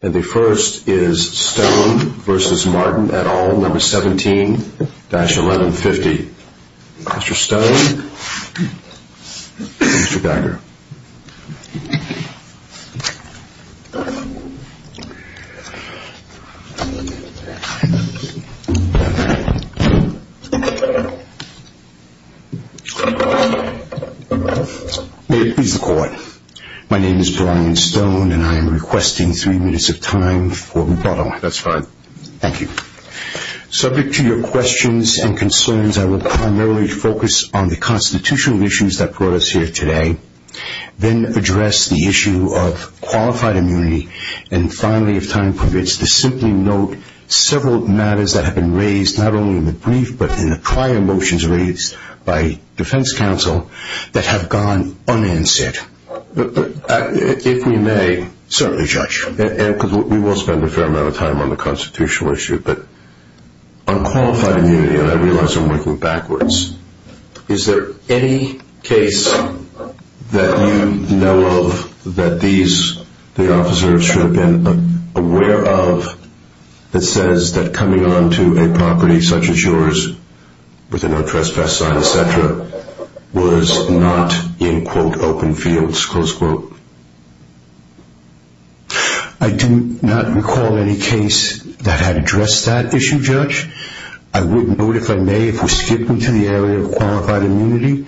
No.17-1150. Mr. Stone, Mr. Becker. May it please the court. My name is Brian Stone and I am requesting three minutes of time for rebuttal. That's fine. Thank you. Subject to your questions and concerns, I issue of qualified immunity and finally, if time permits, to simply note several matters that have been raised, not only in the brief, but in the prior motions raised by defense counsel that have gone unanswered. If we may. Certainly, Judge. We will spend a fair amount of time on the constitutional issue, but on qualified immunity, and I realize I'm working that these officers should have been aware of that says that coming onto a property such as yours with a no trespass sign, etc. was not in, quote, open fields, close quote. I do not recall any case that had addressed that issue, Judge. I would note, if I may, if we skip into the area of qualified immunity,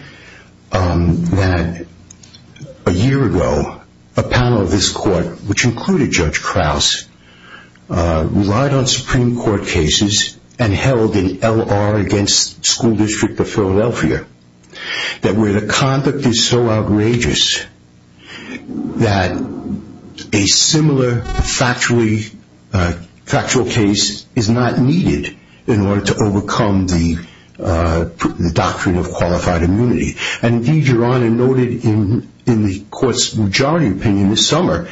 that a year ago, a panel of this court, which included Judge Krause, relied on Supreme Court cases and held an L.R. against school district of Philadelphia, that where the conduct is so outrageous that a similar factual case is not needed in order to overcome the doctrine of qualified immunity. Indeed, Your Honor noted in the court's majority opinion this summer,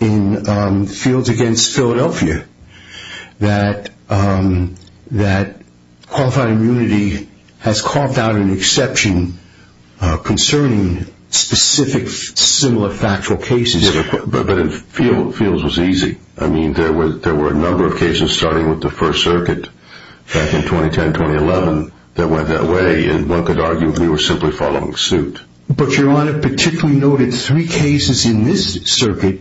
in fields against Philadelphia, that qualified immunity has carved out an exception concerning specific similar factual cases. But in fields was easy. I mean, there were a number of cases starting with the First Circuit back in 2010-2011 that went that way, and one could argue we were simply following suit. But, Your Honor, particularly noted three cases in this circuit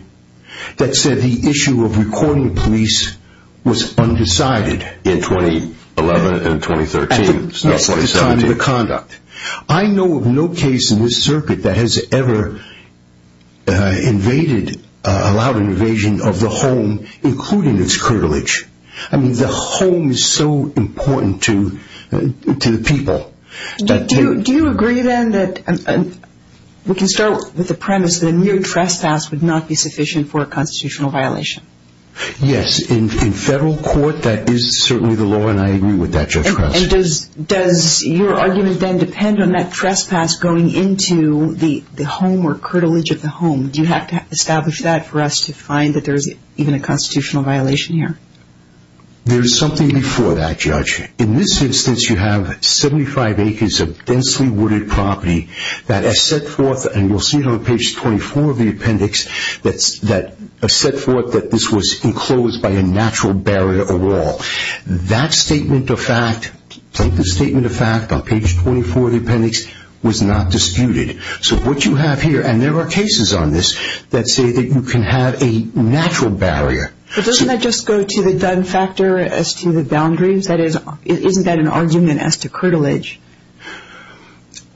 that said the issue of recording police was undecided. In 2011 and 2013. At the time of the conduct. I know of no case in this circuit that has ever invaded, allowed an invasion of the home, including its curtilage. I mean, the home is so important to the people. Do you agree, then, that we can start with the premise that a mere trespass would not be sufficient for a constitutional violation? Yes. In federal court, that is certainly the law, and I agree with that, Judge Krause. And does your argument, then, depend on that trespass going into the home or curtilage of the home? Do you have to establish that for us to find that there is even a constitutional violation here? There is something before that, Judge. In this instance, you have 75 acres of densely wooded property that has set forth, and you'll see it on page 24 of the appendix, that set That statement of fact, take the statement of fact on page 24 of the appendix, was not disputed. So what you have here, and there are cases on this that say that you can have a natural barrier. But doesn't that just go to the done factor as to the boundaries? That is, isn't that an argument as to curtilage?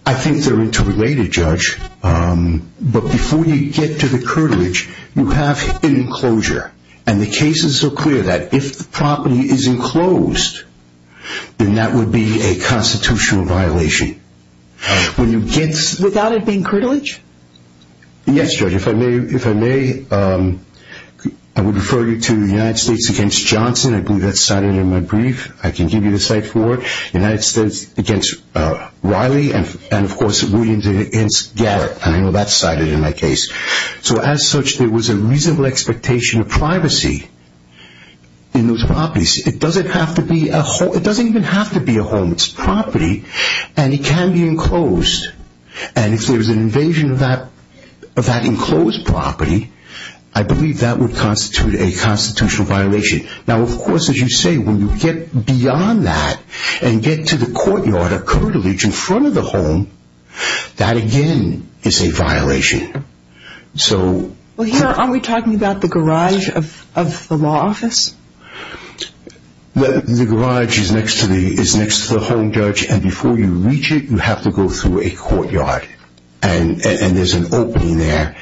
I think they're interrelated, Judge. But before you get to the curtilage, you have an enclosure. And the case is so clear that if the property is enclosed, then that would be a constitutional violation. When you get... Without it being curtilage? Yes, Judge. If I may, I would refer you to the United States against Johnson. I believe that's cited in my brief. I can give you the cite for it. United States against Riley, and of course, Williams against Garrett. I know that's cited in my case. So as such, there was a reasonable expectation of privacy in those properties. It doesn't have to be a home. It doesn't even have to be a home. It's property, and it can be enclosed. And if there's an invasion of that enclosed property, I believe that would constitute a constitutional violation. Now, of course, as you say, when you get beyond that and get to the courtyard or curtilage in front of the home, that again is a violation. Well, here, aren't we talking about the garage of the law office? The garage is next to the home, Judge. And before you reach it, you have to go through a courtyard. And there's an opening there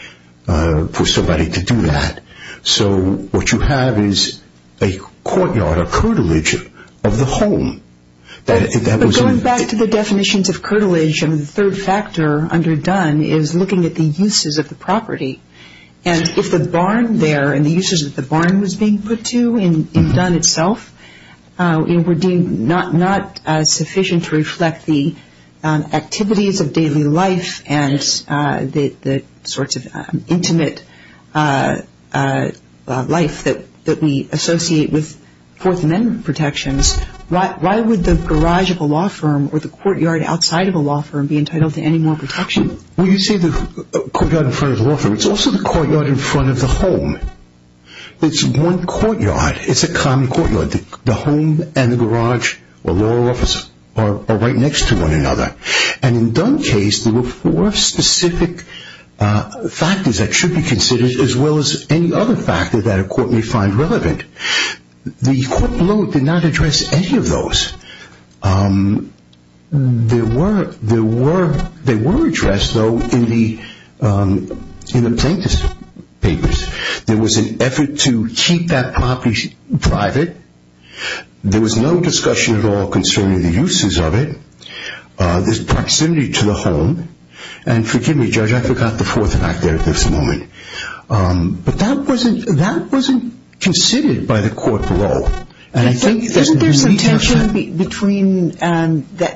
for somebody to do that. So what you have is a courtyard, a curtilage of the home. But going back to the definitions of curtilage, the third factor under Dunn is looking at the uses of the property. And if the barn there and the uses of the barn was being put to in Dunn itself were deemed not sufficient to reflect the activities of daily life and the sorts of intimate life that we associate with Fourth Amendment protections, why would the garage of a law firm or the courtyard outside of a law firm be entitled to any more protection? Well, you say the courtyard in front of the law firm. It's also the courtyard in front of the home. It's one courtyard. It's a common courtyard. The home and the garage or law office are right next to one another. And in Dunn's case, there were four specific factors that should be considered as well as any other factor that a court may find There were addressed, though, in the plaintiff's papers. There was an effort to keep that property private. There was no discussion at all concerning the uses of it. There's proximity to the home. And forgive me, Judge, I forgot the fourth factor at this moment. But that wasn't considered by the court below. Isn't there some tension between the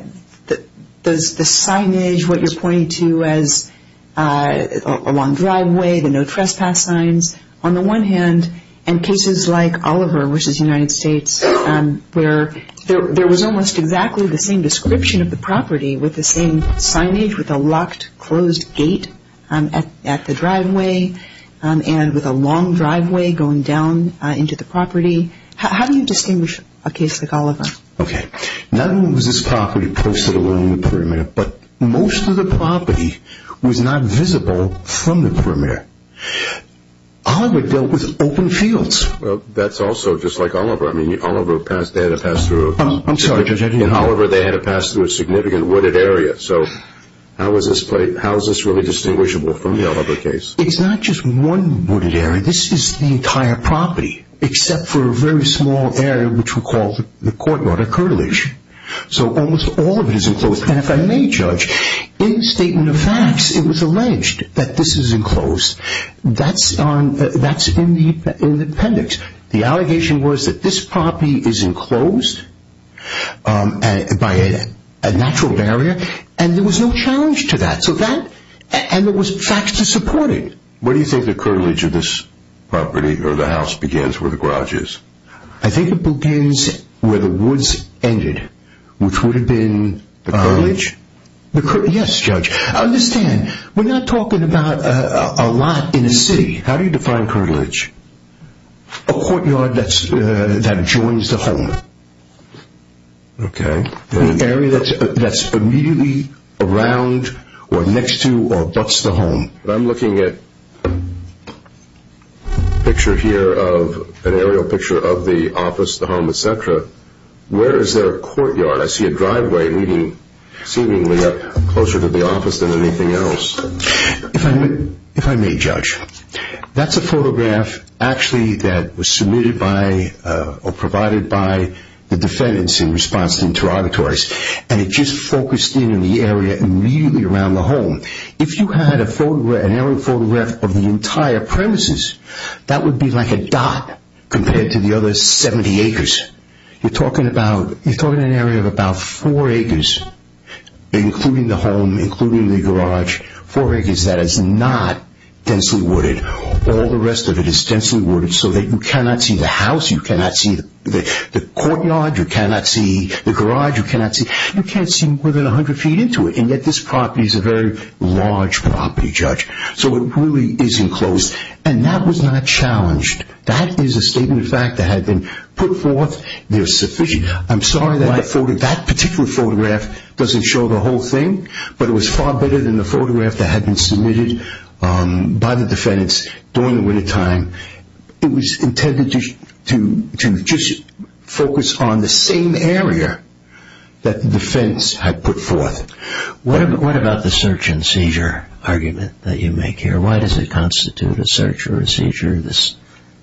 signage, what you're pointing to as a long driveway, the no trespass signs, on the one hand, and cases like Oliver v. United States where there was almost exactly the same description of the property with the same signage with a locked, closed gate at the driveway and with a long driveway going down into the property? How do you distinguish a case like Oliver? Okay. Not only was this property posted along the perimeter, but most of the property was not visible from the perimeter. Oliver dealt with open fields. Well, that's also just like Oliver. I mean, Oliver had to pass through a significant wooded area. So how is this really distinguishable from the Oliver case? It's not just one wooded area. This is the entire property, except for a very small area which we call the courtyard or curtilage. So almost all of it is enclosed. And if I may, Judge, in the statement of facts, it was alleged that this is enclosed. That's in the appendix. The allegation was that this property is enclosed by a natural barrier, and there was no challenge to that. And there was facts to support it. Where do you think the curtilage of this property or the house begins, where the garage is? I think it begins where the woods ended. Which would have been the curtilage? Yes, Judge. Understand, we're not talking about a lot in a city. How do you define curtilage? A courtyard that joins the home. Okay. An area that's immediately around or next to or abuts the home. I'm looking at a picture here of an aerial picture of the office, the home, etc. Where is there a courtyard? I see a driveway leading seemingly up closer to the office than anything else. If I may, Judge, that's a photograph actually that was submitted by or provided by the and it just focused in on the area immediately around the home. If you had an aerial photograph of the entire premises, that would be like a dot compared to the other 70 acres. You're talking about an area of about four acres, including the home, including the garage. Four acres that is not densely wooded. All the rest of it is densely wooded so that you cannot see the house, you cannot see the courtyard, you cannot see the garage, you can't see more than 100 feet into it. And yet this property is a very large property, Judge. So it really is enclosed. And that was not challenged. That is a statement of fact that had been put forth. I'm sorry that that particular photograph doesn't show the whole thing, but it was far better than the photograph that had been submitted by the defendants during the wintertime. It was intended to just focus on the same area that the defense had put forth. What about the search and seizure argument that you make here? Why does it constitute a search or a seizure?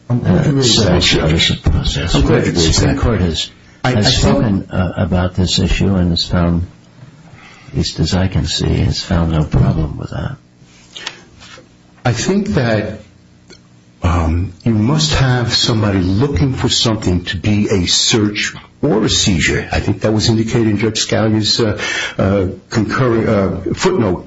I'm glad you raised that. The court has spoken about this issue and has found, at least as I can see, has found no problem with that. I think that you must have somebody looking for something to be a search or a seizure. I think that was indicated in Judge Scalia's footnote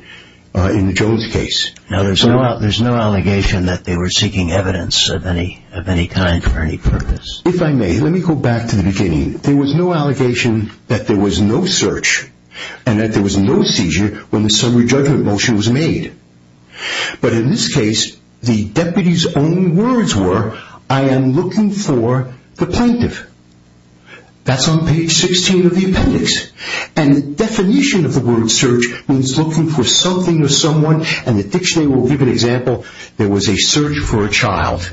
in the Jones case. No, there's no allegation that they were seeking evidence of any kind for any purpose. If I may, let me go back to the beginning. There was no allegation that there was no search and that there was no seizure when the summary judgment motion was made. But in this case, the deputy's only words were, I am looking for the plaintiff. That's on page 16 of the appendix. And the definition of the word search means looking for something or someone, and the dictionary will give an example, there was a search for a child.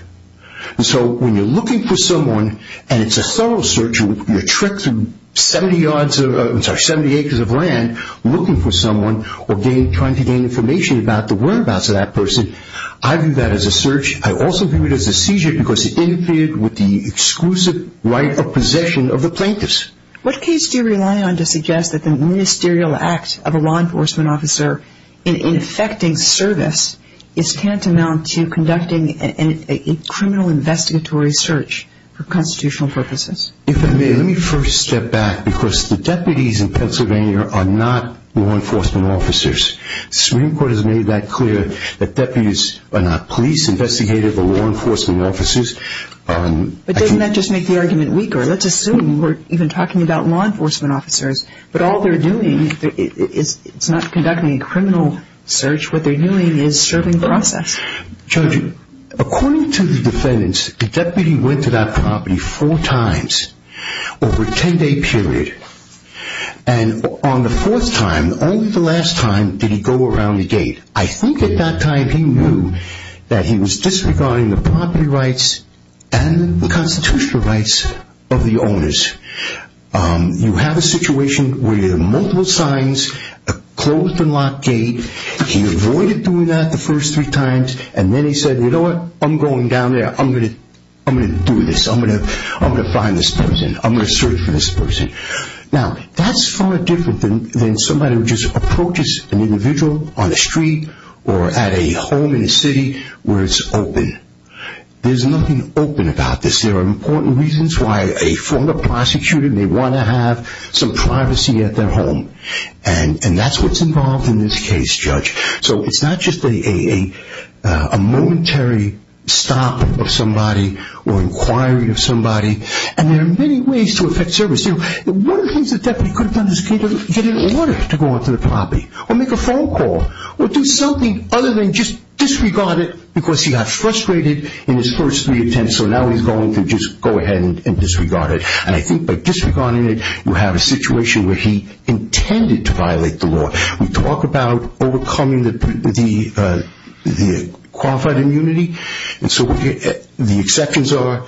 So when you're looking for someone and it's a thorough search, you're trekking 70 acres of land looking for someone or trying to gain information about the whereabouts of that person, I view that as a search. I also view it as a seizure because it interfered with the exclusive right of possession of the plaintiff. What case do you rely on to suggest that the ministerial act of a law enforcement officer in effecting service is tantamount to conducting a criminal investigatory search for constitutional purposes? If I may, let me first step back because the deputies in Pennsylvania are not law enforcement officers. The Supreme Court has made that clear that deputies are not police investigators or law enforcement officers. But doesn't that just make the argument weaker? Let's assume we're even talking about law enforcement officers, but all they're doing is not conducting a criminal search. What they're doing is serving the process. Judge, according to the defendants, the deputy went to that property four times over a 10-day period. And on the fourth time, only the last time did he go around the gate. I think at that time he knew that he was disregarding the property rights and the constitutional rights of the owners. You have a situation where you have multiple signs, a closed and locked gate. He avoided doing that the first three times. And then he said, you know what, I'm going down there. I'm going to do this. I'm going to find this person. I'm going to search for this person. Now, that's far different than somebody who just approaches an individual on the street or at a home in a city where it's open. There's nothing open about this. There are important reasons why a former prosecutor may want to have some privacy at their home. And that's what's involved in this case, Judge. So it's not just a momentary stop of somebody or inquiry of somebody. And there are many ways to affect service. One of the things the deputy could have done is get an order to go up to the property or make a phone call or do something other than just disregard it because he got frustrated in his first three attempts. So now he's going to just go ahead and disregard it. And I think by disregarding it, you have a situation where he intended to violate the law. We talk about overcoming the qualified immunity. And so the exceptions are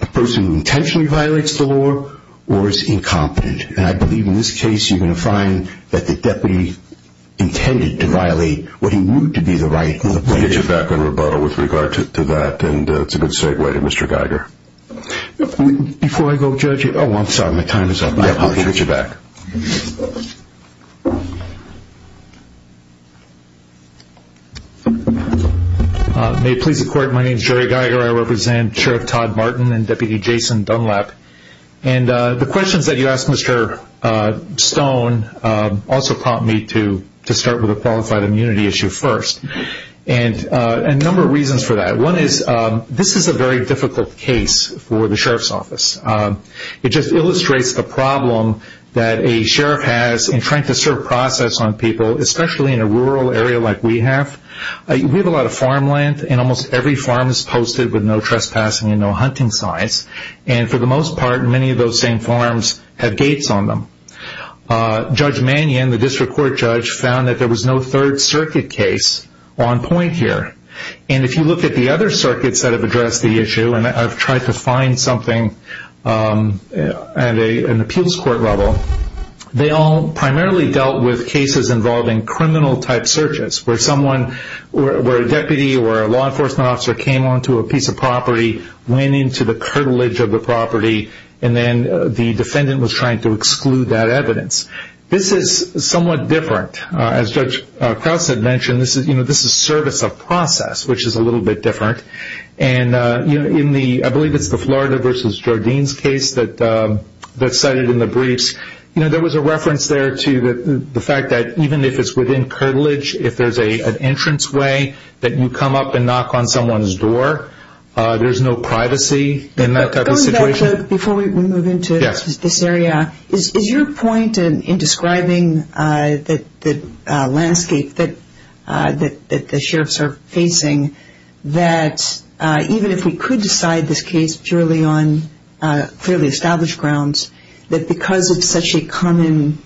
a person who intentionally violates the law or is incompetent. And I believe in this case you're going to find that the deputy intended to violate what he knew to be the right. We'll get you back on rebuttal with regard to that, and it's a good segue to Mr. Geiger. Before I go, Judge. Oh, I'm sorry. My time is up. I'll get you back. May it please the Court, my name is Jerry Geiger. I represent Sheriff Todd Martin and Deputy Jason Dunlap. And the questions that you asked, Mr. Stone, also prompt me to start with a qualified immunity issue first. And a number of reasons for that. One is this is a very difficult case for the Sheriff's Office. It just illustrates the problem that a sheriff has in trying to serve process on people, especially in a rural area like we have. We have a lot of farmland, and almost every farm is posted with no trespassing and no hunting signs. And for the most part, many of those same farms have gates on them. Judge Mannion, the district court judge, found that there was no Third Circuit case on point here. And if you look at the other circuits that have addressed the issue, and I've tried to find something at an appeals court level, they all primarily dealt with cases involving criminal-type searches, where a deputy or a law enforcement officer came onto a piece of property, went into the curtilage of the property, and then the defendant was trying to exclude that evidence. This is somewhat different. As Judge Krause had mentioned, this is service of process, which is a little bit different. And I believe it's the Florida v. Jardines case that's cited in the briefs. There was a reference there to the fact that even if it's within curtilage, if there's an entranceway that you come up and knock on someone's door, there's no privacy in that type of situation. Judge, before we move into this area, is your point in describing the landscape that the sheriffs are facing, that even if we could decide this case purely on fairly established grounds, that because it's such a common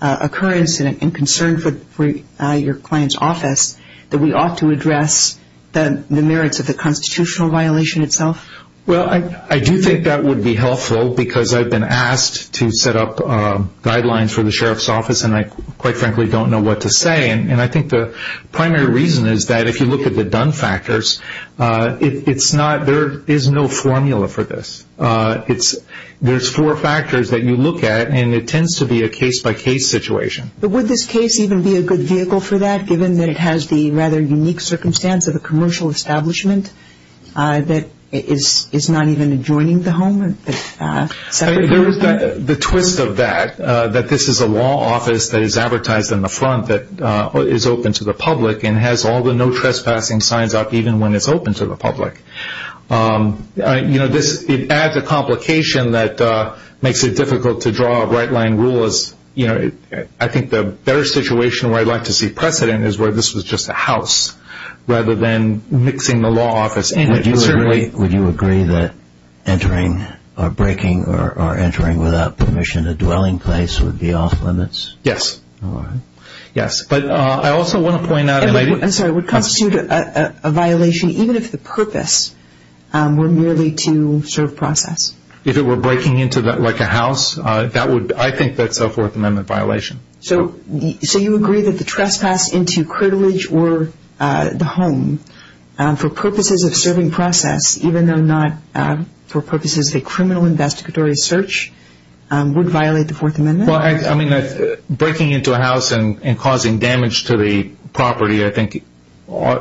occurrence and concern for your client's office, that we ought to address the merits of the constitutional violation itself? Well, I do think that would be helpful because I've been asked to set up guidelines for the sheriff's office, and I quite frankly don't know what to say. And I think the primary reason is that if you look at the done factors, there is no formula for this. There's four factors that you look at, and it tends to be a case-by-case situation. But would this case even be a good vehicle for that, given that it has the rather unique circumstance of a commercial establishment that is not even adjoining the home? There is the twist of that, that this is a law office that is advertised on the front that is open to the public and has all the no trespassing signs up even when it's open to the public. You know, it adds a complication that makes it difficult to draw a right-line rule. I think the better situation where I'd like to see precedent is where this was just a house, rather than mixing the law office in. Would you agree that entering or breaking or entering without permission a dwelling place would be off-limits? Yes. All right. Yes, but I also want to point out that maybe- I'm sorry, would constitute a violation even if the purpose were merely to serve process? If it were breaking into like a house, I think that's a Fourth Amendment violation. So you agree that the trespass into Crittle Ridge or the home for purposes of serving process, even though not for purposes of a criminal investigatory search, would violate the Fourth Amendment? Well, I mean, breaking into a house and causing damage to the property, I think,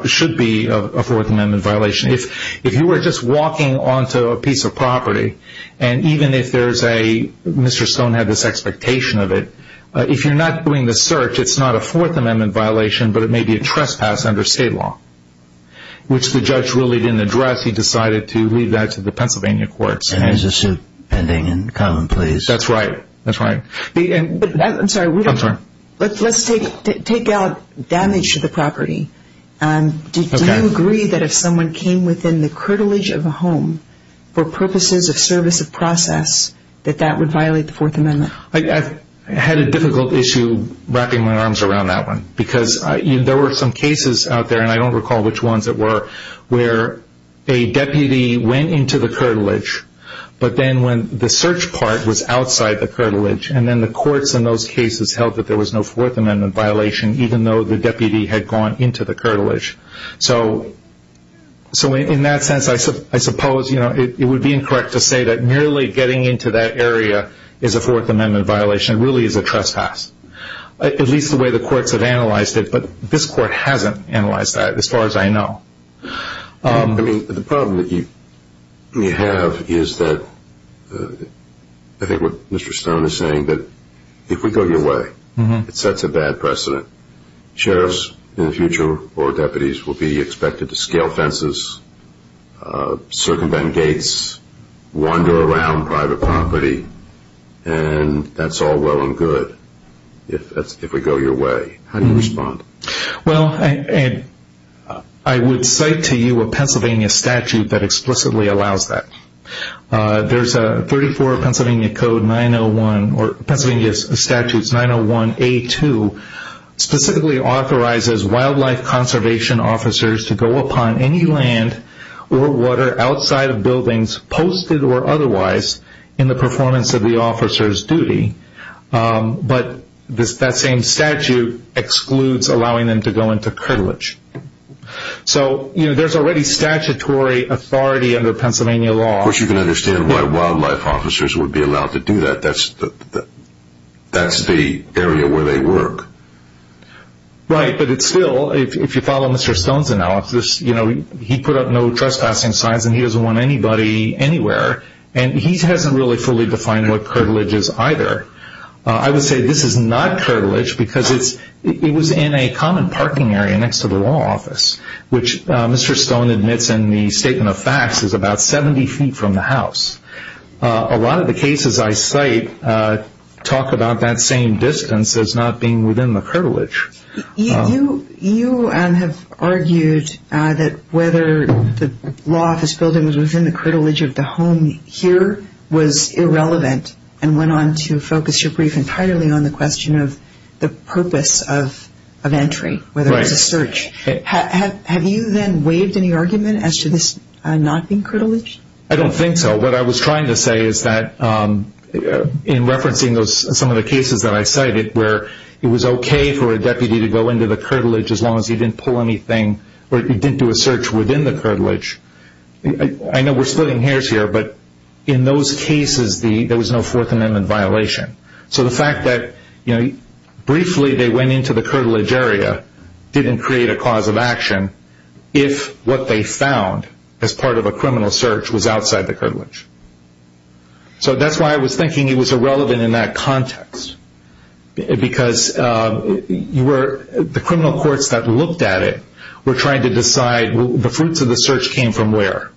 should be a Fourth Amendment violation. If you were just walking onto a piece of property, and even if there's a-Mr. Stone had this expectation of it, if you're not doing the search, it's not a Fourth Amendment violation, but it may be a trespass under state law, which the judge really didn't address. He decided to leave that to the Pennsylvania courts. And there's a suit pending in common pleas. That's right. That's right. I'm sorry, let's take out damage to the property. Do you agree that if someone came within the Crittle Ridge of a home for purposes of service of process, that that would violate the Fourth Amendment? I had a difficult issue wrapping my arms around that one, because there were some cases out there, and I don't recall which ones it were, where a deputy went into the Crittle Ridge, but then when the search part was outside the Crittle Ridge, and then the courts in those cases held that there was no Fourth Amendment violation, even though the deputy had gone into the Crittle Ridge. So in that sense, I suppose, you know, it would be incorrect to say that merely getting into that area is a Fourth Amendment violation. It really is a trespass, at least the way the courts have analyzed it, but this court hasn't analyzed that as far as I know. I mean, the problem that you have is that I think what Mr. Stone is saying, that if we go your way, it sets a bad precedent. Sheriffs in the future or deputies will be expected to scale fences, circumvent gates, wander around private property, and that's all well and good if we go your way. How do you respond? Well, I would cite to you a Pennsylvania statute that explicitly allows that. There's a 34 Pennsylvania Code 901, or Pennsylvania Statutes 901A2, specifically authorizes wildlife conservation officers to go upon any land or water outside of buildings posted or otherwise in the performance of the officer's duty, but that same statute excludes allowing them to go into Crittle Ridge. So there's already statutory authority under Pennsylvania law. Of course you can understand why wildlife officers would be allowed to do that. That's the area where they work. Right, but it's still, if you follow Mr. Stone's analysis, he put up no trespassing signs and he doesn't want anybody anywhere, and he hasn't really fully defined what Crittle Ridge is either. I would say this is not Crittle Ridge because it was in a common parking area next to the law office, which Mr. Stone admits in the statement of facts is about 70 feet from the house. A lot of the cases I cite talk about that same distance as not being within the Crittle Ridge. You have argued that whether the law office building was within the Crittle Ridge of the home here was irrelevant and went on to focus your brief entirely on the question of the purpose of entry, whether it was a search. Have you then waived any argument as to this not being Crittle Ridge? I don't think so. What I was trying to say is that in referencing some of the cases that I cited where it was okay for a deputy to go into the Crittle Ridge as long as he didn't pull anything or he didn't do a search within the Crittle Ridge. I know we're splitting hairs here, but in those cases there was no Fourth Amendment violation. So the fact that briefly they went into the Crittle Ridge area didn't create a cause of action if what they found as part of a criminal search was outside the Crittle Ridge. So that's why I was thinking it was irrelevant in that context because the criminal courts that looked at it were trying to decide the fruits of the search came from where.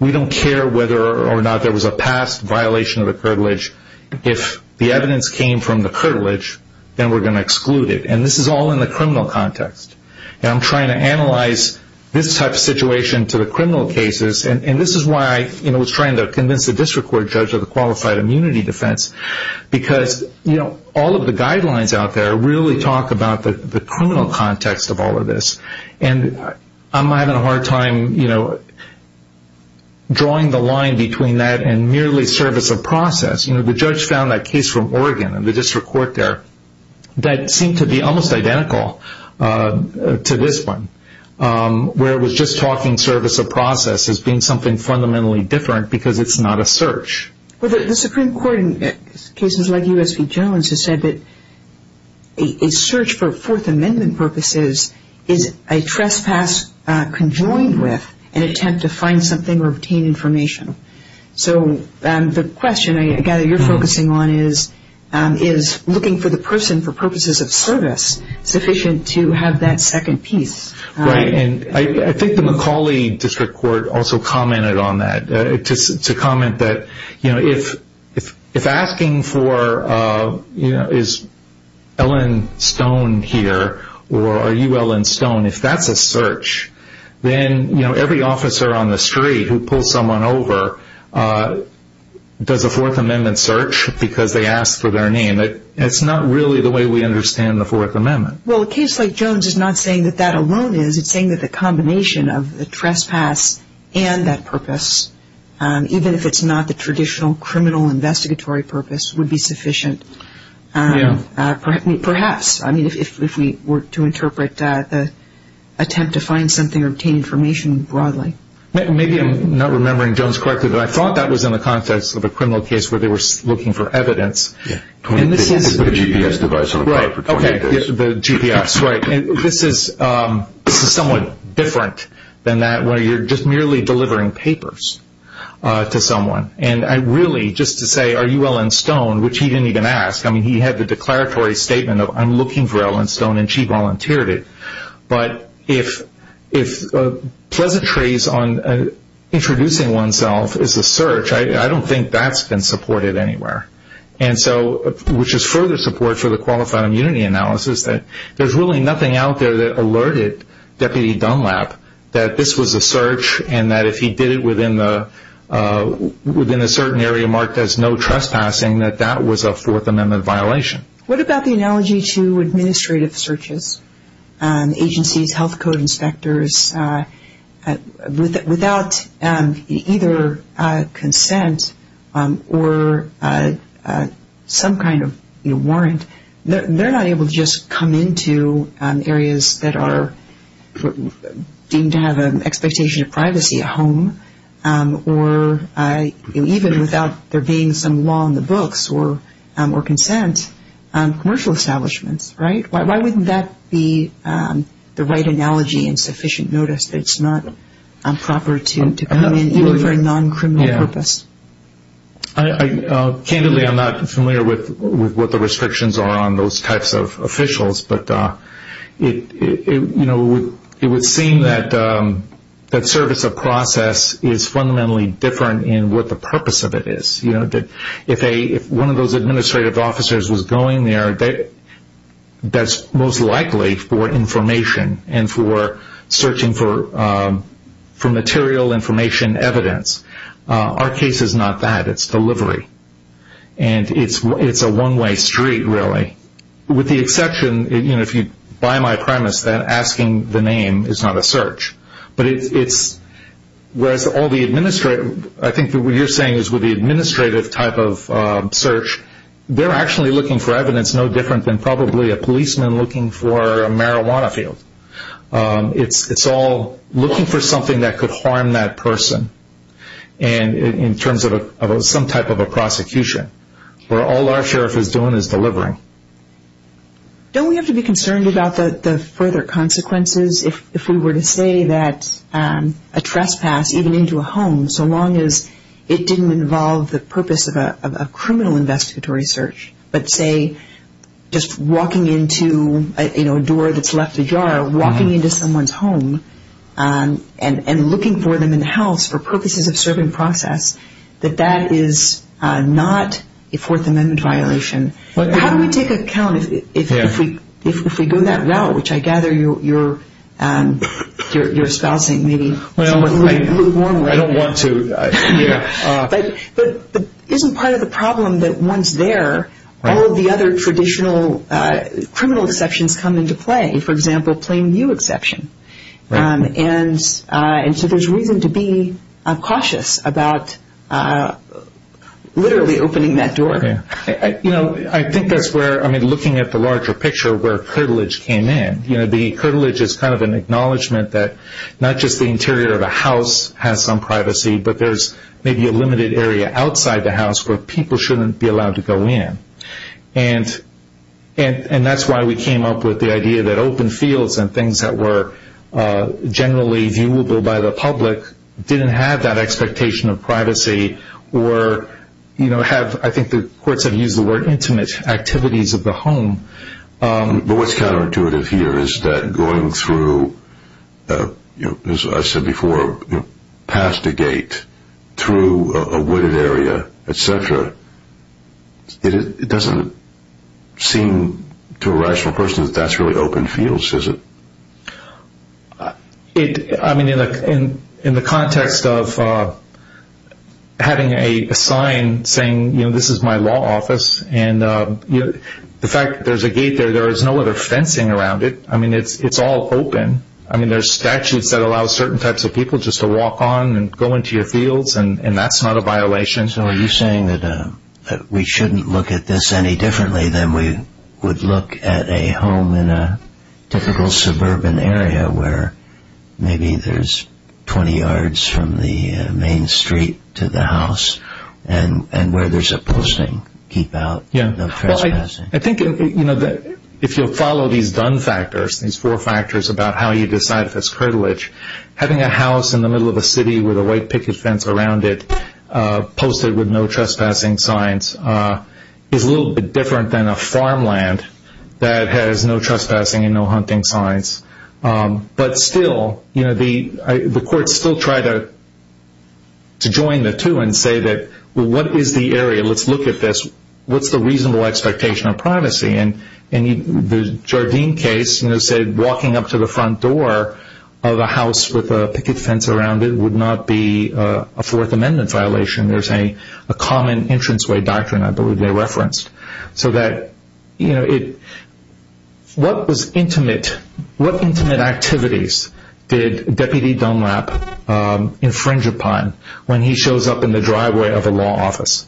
We don't care whether or not there was a past violation of the Crittle Ridge. If the evidence came from the Crittle Ridge, then we're going to exclude it. This is all in the criminal context. I'm trying to analyze this type of situation to the criminal cases, and this is why I was trying to convince the district court judge of the qualified immunity defense because all of the guidelines out there really talk about the criminal context of all of this, and I'm having a hard time drawing the line between that and merely service of process. The judge found that case from Oregon in the district court there that seemed to be almost identical to this one where it was just talking service of process as being something fundamentally different because it's not a search. Well, the Supreme Court in cases like U.S. v. Jones has said that a search for Fourth Amendment purposes is a trespass conjoined with an attempt to find something or obtain information. So the question, I gather, you're focusing on is looking for the person for purposes of service sufficient to have that second piece. Right, and I think the McCauley district court also commented on that. To comment that if asking for is Ellen Stone here or are you Ellen Stone, if that's a search, then every officer on the street who pulls someone over does a Fourth Amendment search because they asked for their name. It's not really the way we understand the Fourth Amendment. Well, a case like Jones is not saying that that alone is. It's saying that the combination of the trespass and that purpose, even if it's not the traditional criminal investigatory purpose, would be sufficient. Perhaps, I mean, if we were to interpret the attempt to find something or obtain information broadly. Maybe I'm not remembering Jones correctly, but I thought that was in the context of a criminal case where they were looking for evidence. The GPS device on a car for 20 days. The GPS, right. This is somewhat different than that where you're just merely delivering papers to someone. And I really, just to say, are you Ellen Stone, which he didn't even ask. I mean, he had the declaratory statement of I'm looking for Ellen Stone, and she volunteered it. But if pleasantries on introducing oneself is a search, I don't think that's been supported anywhere. And so, which is further support for the Qualified Immunity Analysis, that there's really nothing out there that alerted Deputy Dunlap that this was a search and that if he did it within a certain area marked as no trespassing, that that was a Fourth Amendment violation. What about the analogy to administrative searches? Agencies, health code inspectors, without either consent or some kind of warrant, they're not able to just come into areas that are deemed to have an expectation of privacy, a home, or even without there being some law in the books or consent, commercial establishments, right? Why wouldn't that be the right analogy in sufficient notice that it's not proper to come in even for a non-criminal purpose? Candidly, I'm not familiar with what the restrictions are on those types of officials, but it would seem that service of process is fundamentally different in what the purpose of it is. If one of those administrative officers was going there, that's most likely for information and for searching for material information evidence. Our case is not that, it's delivery. And it's a one-way street, really. With the exception, if you buy my premise, that asking the name is not a search. I think what you're saying is with the administrative type of search, they're actually looking for evidence no different than probably a policeman looking for a marijuana field. It's all looking for something that could harm that person in terms of some type of a prosecution, where all our sheriff is doing is delivering. Don't we have to be concerned about the further consequences if we were to say that a trespass, even into a home, so long as it didn't involve the purpose of a criminal investigatory search, but say just walking into a door that's left ajar, walking into someone's home and looking for them in the house for purposes of serving process, that that is not a Fourth Amendment violation? How do we take account if we go that route, which I gather you're espousing maybe. I don't want to. But isn't part of the problem that once there, all of the other traditional criminal exceptions come into play? For example, plain view exception. And so there's reason to be cautious about literally opening that door. I think that's where, looking at the larger picture, where curtilage came in. The curtilage is kind of an acknowledgment that not just the interior of a house has some privacy, but there's maybe a limited area outside the house where people shouldn't be allowed to go in. And that's why we came up with the idea that open fields and things that were generally viewable by the public didn't have that expectation of privacy or have, I think the courts have used the word, intimate activities of the home. But what's counterintuitive here is that going through, as I said before, past a gate, through a wooded area, et cetera, it doesn't seem to a rational person that that's really open fields, is it? I mean, in the context of having a sign saying, you know, this is my law office, and the fact that there's a gate there, there is no other fencing around it. I mean, it's all open. I mean, there's statutes that allow certain types of people just to walk on and go into your fields, and that's not a violation. So are you saying that we shouldn't look at this any differently than we would look at a home in a typical suburban area where maybe there's 20 yards from the main street to the house and where there's a posting to keep out trespassing? I think if you follow these done factors, these four factors about how you decide if it's curtilage, having a house in the middle of a city with a white picket fence around it posted with no trespassing signs is a little bit different than a farmland that has no trespassing and no hunting signs. But still, you know, the courts still try to join the two and say that, well, what is the area? Let's look at this. What's the reasonable expectation of privacy? And the Jardine case said walking up to the front door of a house with a picket fence around it would not be a Fourth Amendment violation. There's a common entranceway doctrine I believe they referenced. So that, you know, what was intimate? What intimate activities did Deputy Dunlap infringe upon when he shows up in the driveway of a law office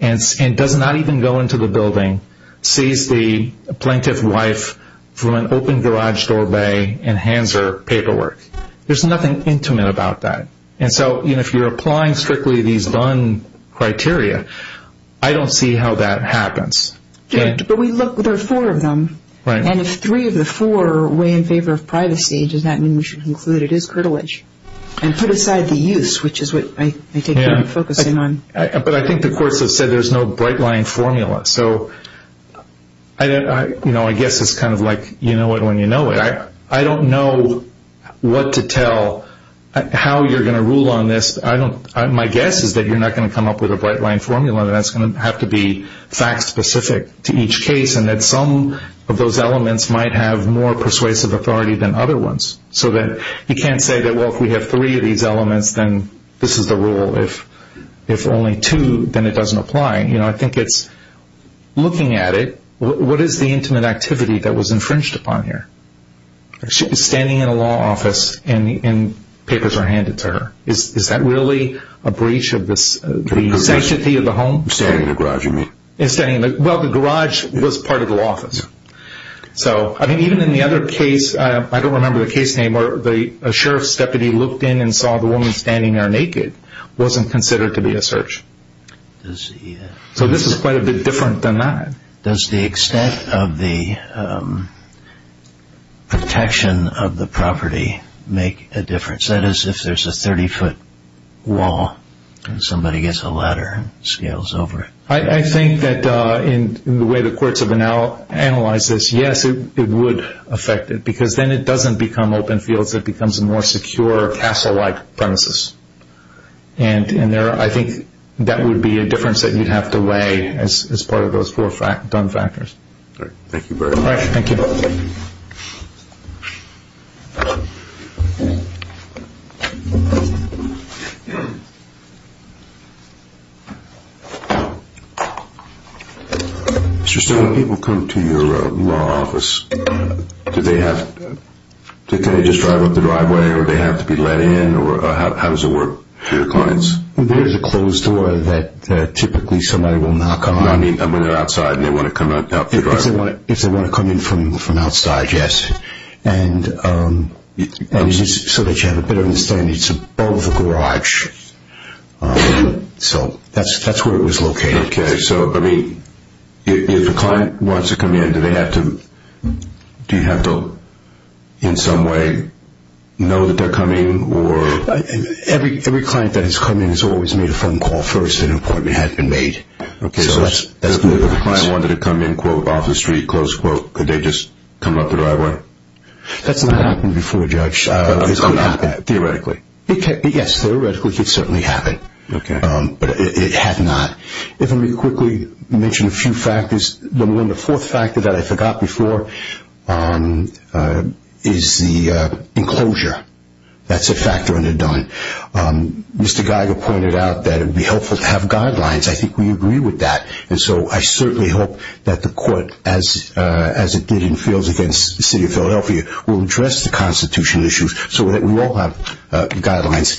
and does not even go into the building, sees the plaintiff's wife from an open garage doorway and hands her paperwork? There's nothing intimate about that. And so, you know, if you're applying strictly these done criteria, I don't see how that happens. But we look, there are four of them. And if three of the four weigh in favor of privacy, does that mean we should conclude it is curtilage and put aside the use, which is what I think you're focusing on. But I think the courts have said there's no bright line formula. So, you know, I guess it's kind of like you know it when you know it. I don't know what to tell, how you're going to rule on this. My guess is that you're not going to come up with a bright line formula and that's going to have to be fact specific to each case and that some of those elements might have more persuasive authority than other ones. So that you can't say that, well, if we have three of these elements, then this is the rule. If only two, then it doesn't apply. You know, I think it's looking at it, what is the intimate activity that was infringed upon here? She's standing in a law office and papers are handed to her. Is that really a breach of the sanctity of the home? Standing in a garage, you mean. Well, the garage was part of the law office. So, I mean, even in the other case, I don't remember the case name, where a sheriff's deputy looked in and saw the woman standing there naked wasn't considered to be a search. So this is quite a bit different than that. Does the extent of the protection of the property make a difference? That is, if there's a 30-foot wall and somebody gets a ladder and scales over it. I think that in the way the courts have analyzed this, yes, it would affect it. Because then it doesn't become open fields. It becomes a more secure castle-like premises. And I think that would be a difference that you'd have to weigh as part of those four dumb factors. Thank you, Barry. Thank you. Mr. Stone, when people come to your law office, do they have to just drive up the driveway or do they have to be let in? How does it work for your clients? There is a closed door that typically somebody will knock on. I mean, when they're outside and they want to come up the driveway. If they want to come in from outside. Yes. And so that you have a better understanding, it's above the garage. So that's where it was located. Okay, so, I mean, if a client wants to come in, do they have to, do you have to in some way know that they're coming or? Every client that has come in has always made a phone call first that an appointment had been made. Okay, so if a client wanted to come in, quote, off the street, close quote, could they just come up the driveway? That's not happened before, Judge. It could happen. Theoretically. Yes, theoretically it could certainly happen. Okay. But it had not. Let me quickly mention a few factors. The fourth factor that I forgot before is the enclosure. That's a factor under done. Mr. Geiger pointed out that it would be helpful to have guidelines. I think we agree with that. And so I certainly hope that the court, as it did in fields against the City of Philadelphia, will address the constitutional issues so that we all have guidelines.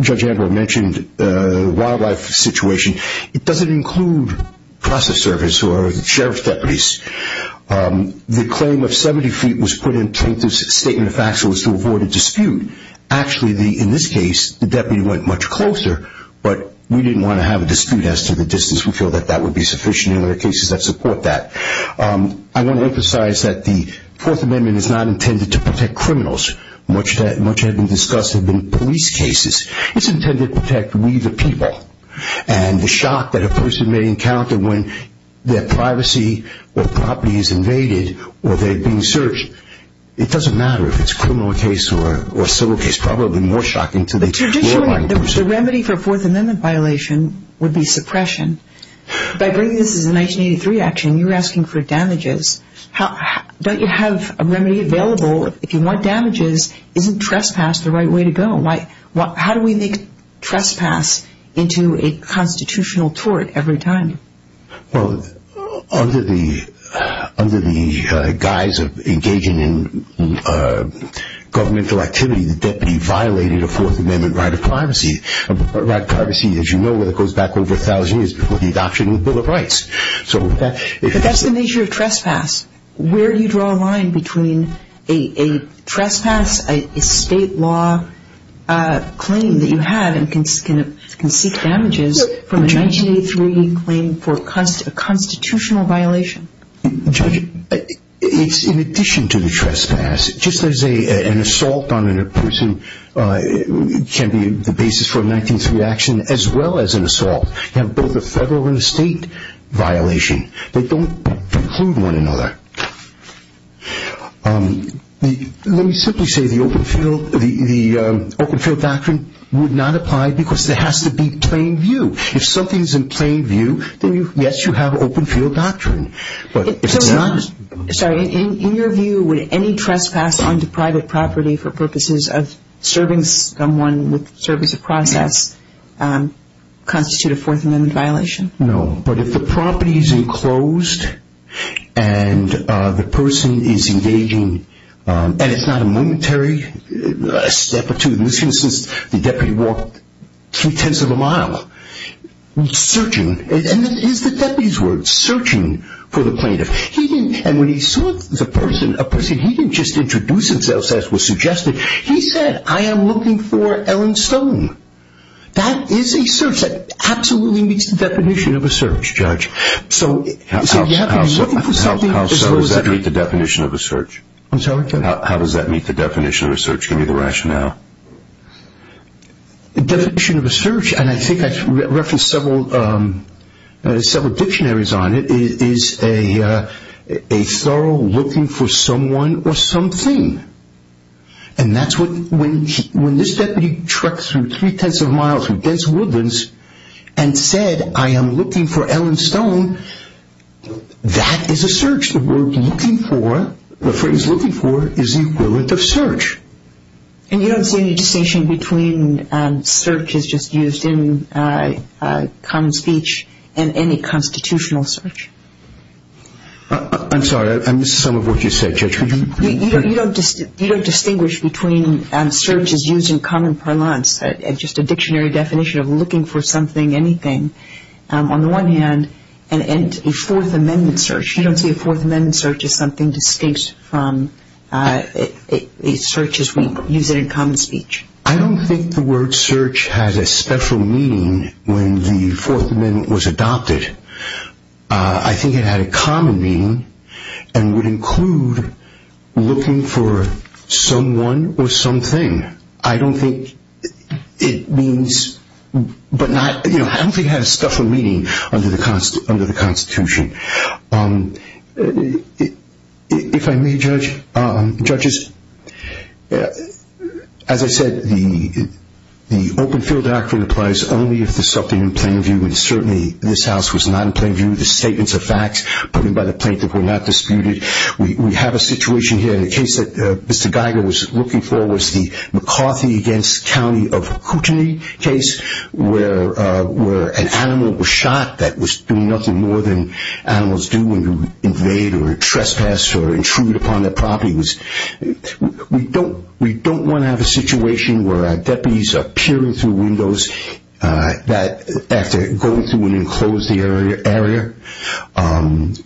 Judge Amber mentioned the wildlife situation. It doesn't include process service or sheriff's deputies. The claim of 70 feet was put in to make this statement of facts so as to avoid a dispute. Actually, in this case, the deputy went much closer, but we didn't want to have a dispute as to the distance. We feel that that would be sufficient and there are cases that support that. I want to emphasize that the Fourth Amendment is not intended to protect criminals. Much had been discussed have been police cases. It's intended to protect we, the people. And the shock that a person may encounter when their privacy or property is invaded or they're being searched, it doesn't matter if it's a criminal case or a civil case. Probably more shocking to the law-abiding person. Traditionally, the remedy for a Fourth Amendment violation would be suppression. By bringing this as a 1983 action, you're asking for damages. Don't you have a remedy available if you want damages? Isn't trespass the right way to go? How do we make trespass into a constitutional tort every time? Well, under the guise of engaging in governmental activity, the deputy violated a Fourth Amendment right of privacy. A right of privacy, as you know, goes back over 1,000 years before the adoption of the Bill of Rights. But that's the nature of trespass. Where do you draw a line between a trespass, a state law claim that you have and can seek damages from a 1983 claim for a constitutional violation? Judge, it's in addition to the trespass. Just as an assault on a person can be the basis for a 1983 action as well as an assault. You have both a federal and a state violation. They don't preclude one another. Let me simply say the open field doctrine would not apply because there has to be plain view. If something is in plain view, then, yes, you have open field doctrine. Sorry. In your view, would any trespass onto private property for purposes of serving someone with the service of process constitute a Fourth Amendment violation? No. But if the property is enclosed and the person is engaging, and it's not a momentary step or two. In this instance, the deputy walked three-tenths of a mile searching. And this is the deputy's word, searching for the plaintiff. And when he saw the person, a person he didn't just introduce himself as was suggested. He said, I am looking for Ellen Stone. That is a search that absolutely meets the definition of a search, Judge. So you have to be looking for something. How does that meet the definition of a search? I'm sorry? How does that meet the definition of a search? Give me the rationale. The definition of a search, and I think I referenced several dictionaries on it, is a thorough looking for someone or something. And that's when this deputy trekked through three-tenths of a mile through dense woodlands and said, I am looking for Ellen Stone, that is a search. The phrase looking for is the equivalent of search. And you don't see any distinction between search as just used in common speech and any constitutional search? I'm sorry. You don't distinguish between search as used in common parlance, just a dictionary definition of looking for something, anything. On the one hand, a Fourth Amendment search, you don't see a Fourth Amendment search as something distinct from a search as we use it in common speech. I don't think the word search has a special meaning when the Fourth Amendment was adopted. I think it had a common meaning and would include looking for someone or something. I don't think it has special meaning under the Constitution. If I may, judges, as I said, the open field doctrine applies only if there is something in plain view, and certainly this House was not in plain view of the statements of facts put in by the plaintiff were not disputed. We have a situation here. The case that Mr. Geiger was looking for was the McCarthy v. County of Kootenai case, where an animal was shot that was doing nothing more than animals do when you invade or trespass or intrude upon their property. We don't want to have a situation where deputies are peering through windows after going through an enclosed area.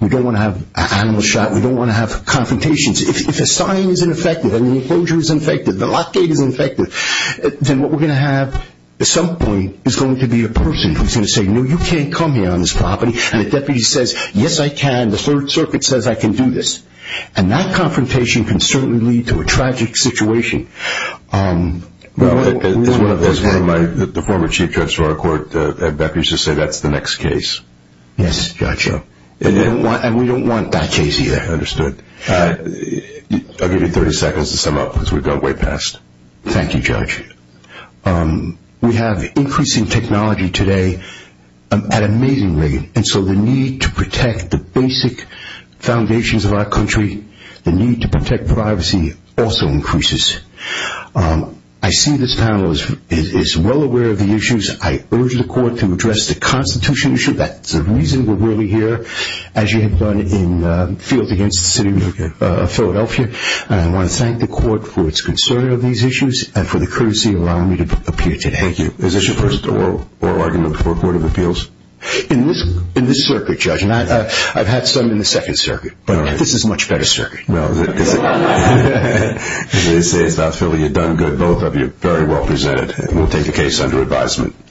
We don't want to have animals shot. We don't want to have confrontations. If a sign is ineffective and the enclosure is ineffective, the lock gate is ineffective, then what we're going to have at some point is going to be a person who's going to say, no, you can't come here on this property. And a deputy says, yes, I can. The Third Circuit says I can do this. And that confrontation can certainly lead to a tragic situation. Well, as one of my former chief judges for our court, I'd be happy to say that's the next case. Yes, Judge. And we don't want that case either. Understood. I'll give you 30 seconds to sum up because we've gone way past. Thank you, Judge. We have increasing technology today at an amazing rate, and so the need to protect the basic foundations of our country, the need to protect privacy also increases. I see this panel is well aware of the issues. I urge the court to address the Constitution issue. That's the reason we're really here, as you have done in the field against the city of Philadelphia. And I want to thank the court for its concern of these issues and for the courtesy of allowing me to appear today. Thank you. Is this your first oral argument before the Court of Appeals? In this circuit, Judge, and I've had some in the Second Circuit, but this is a much better circuit. Well, as they say, it's about feeling you've done good. Both of you are very well presented, and we'll take the case under advisement.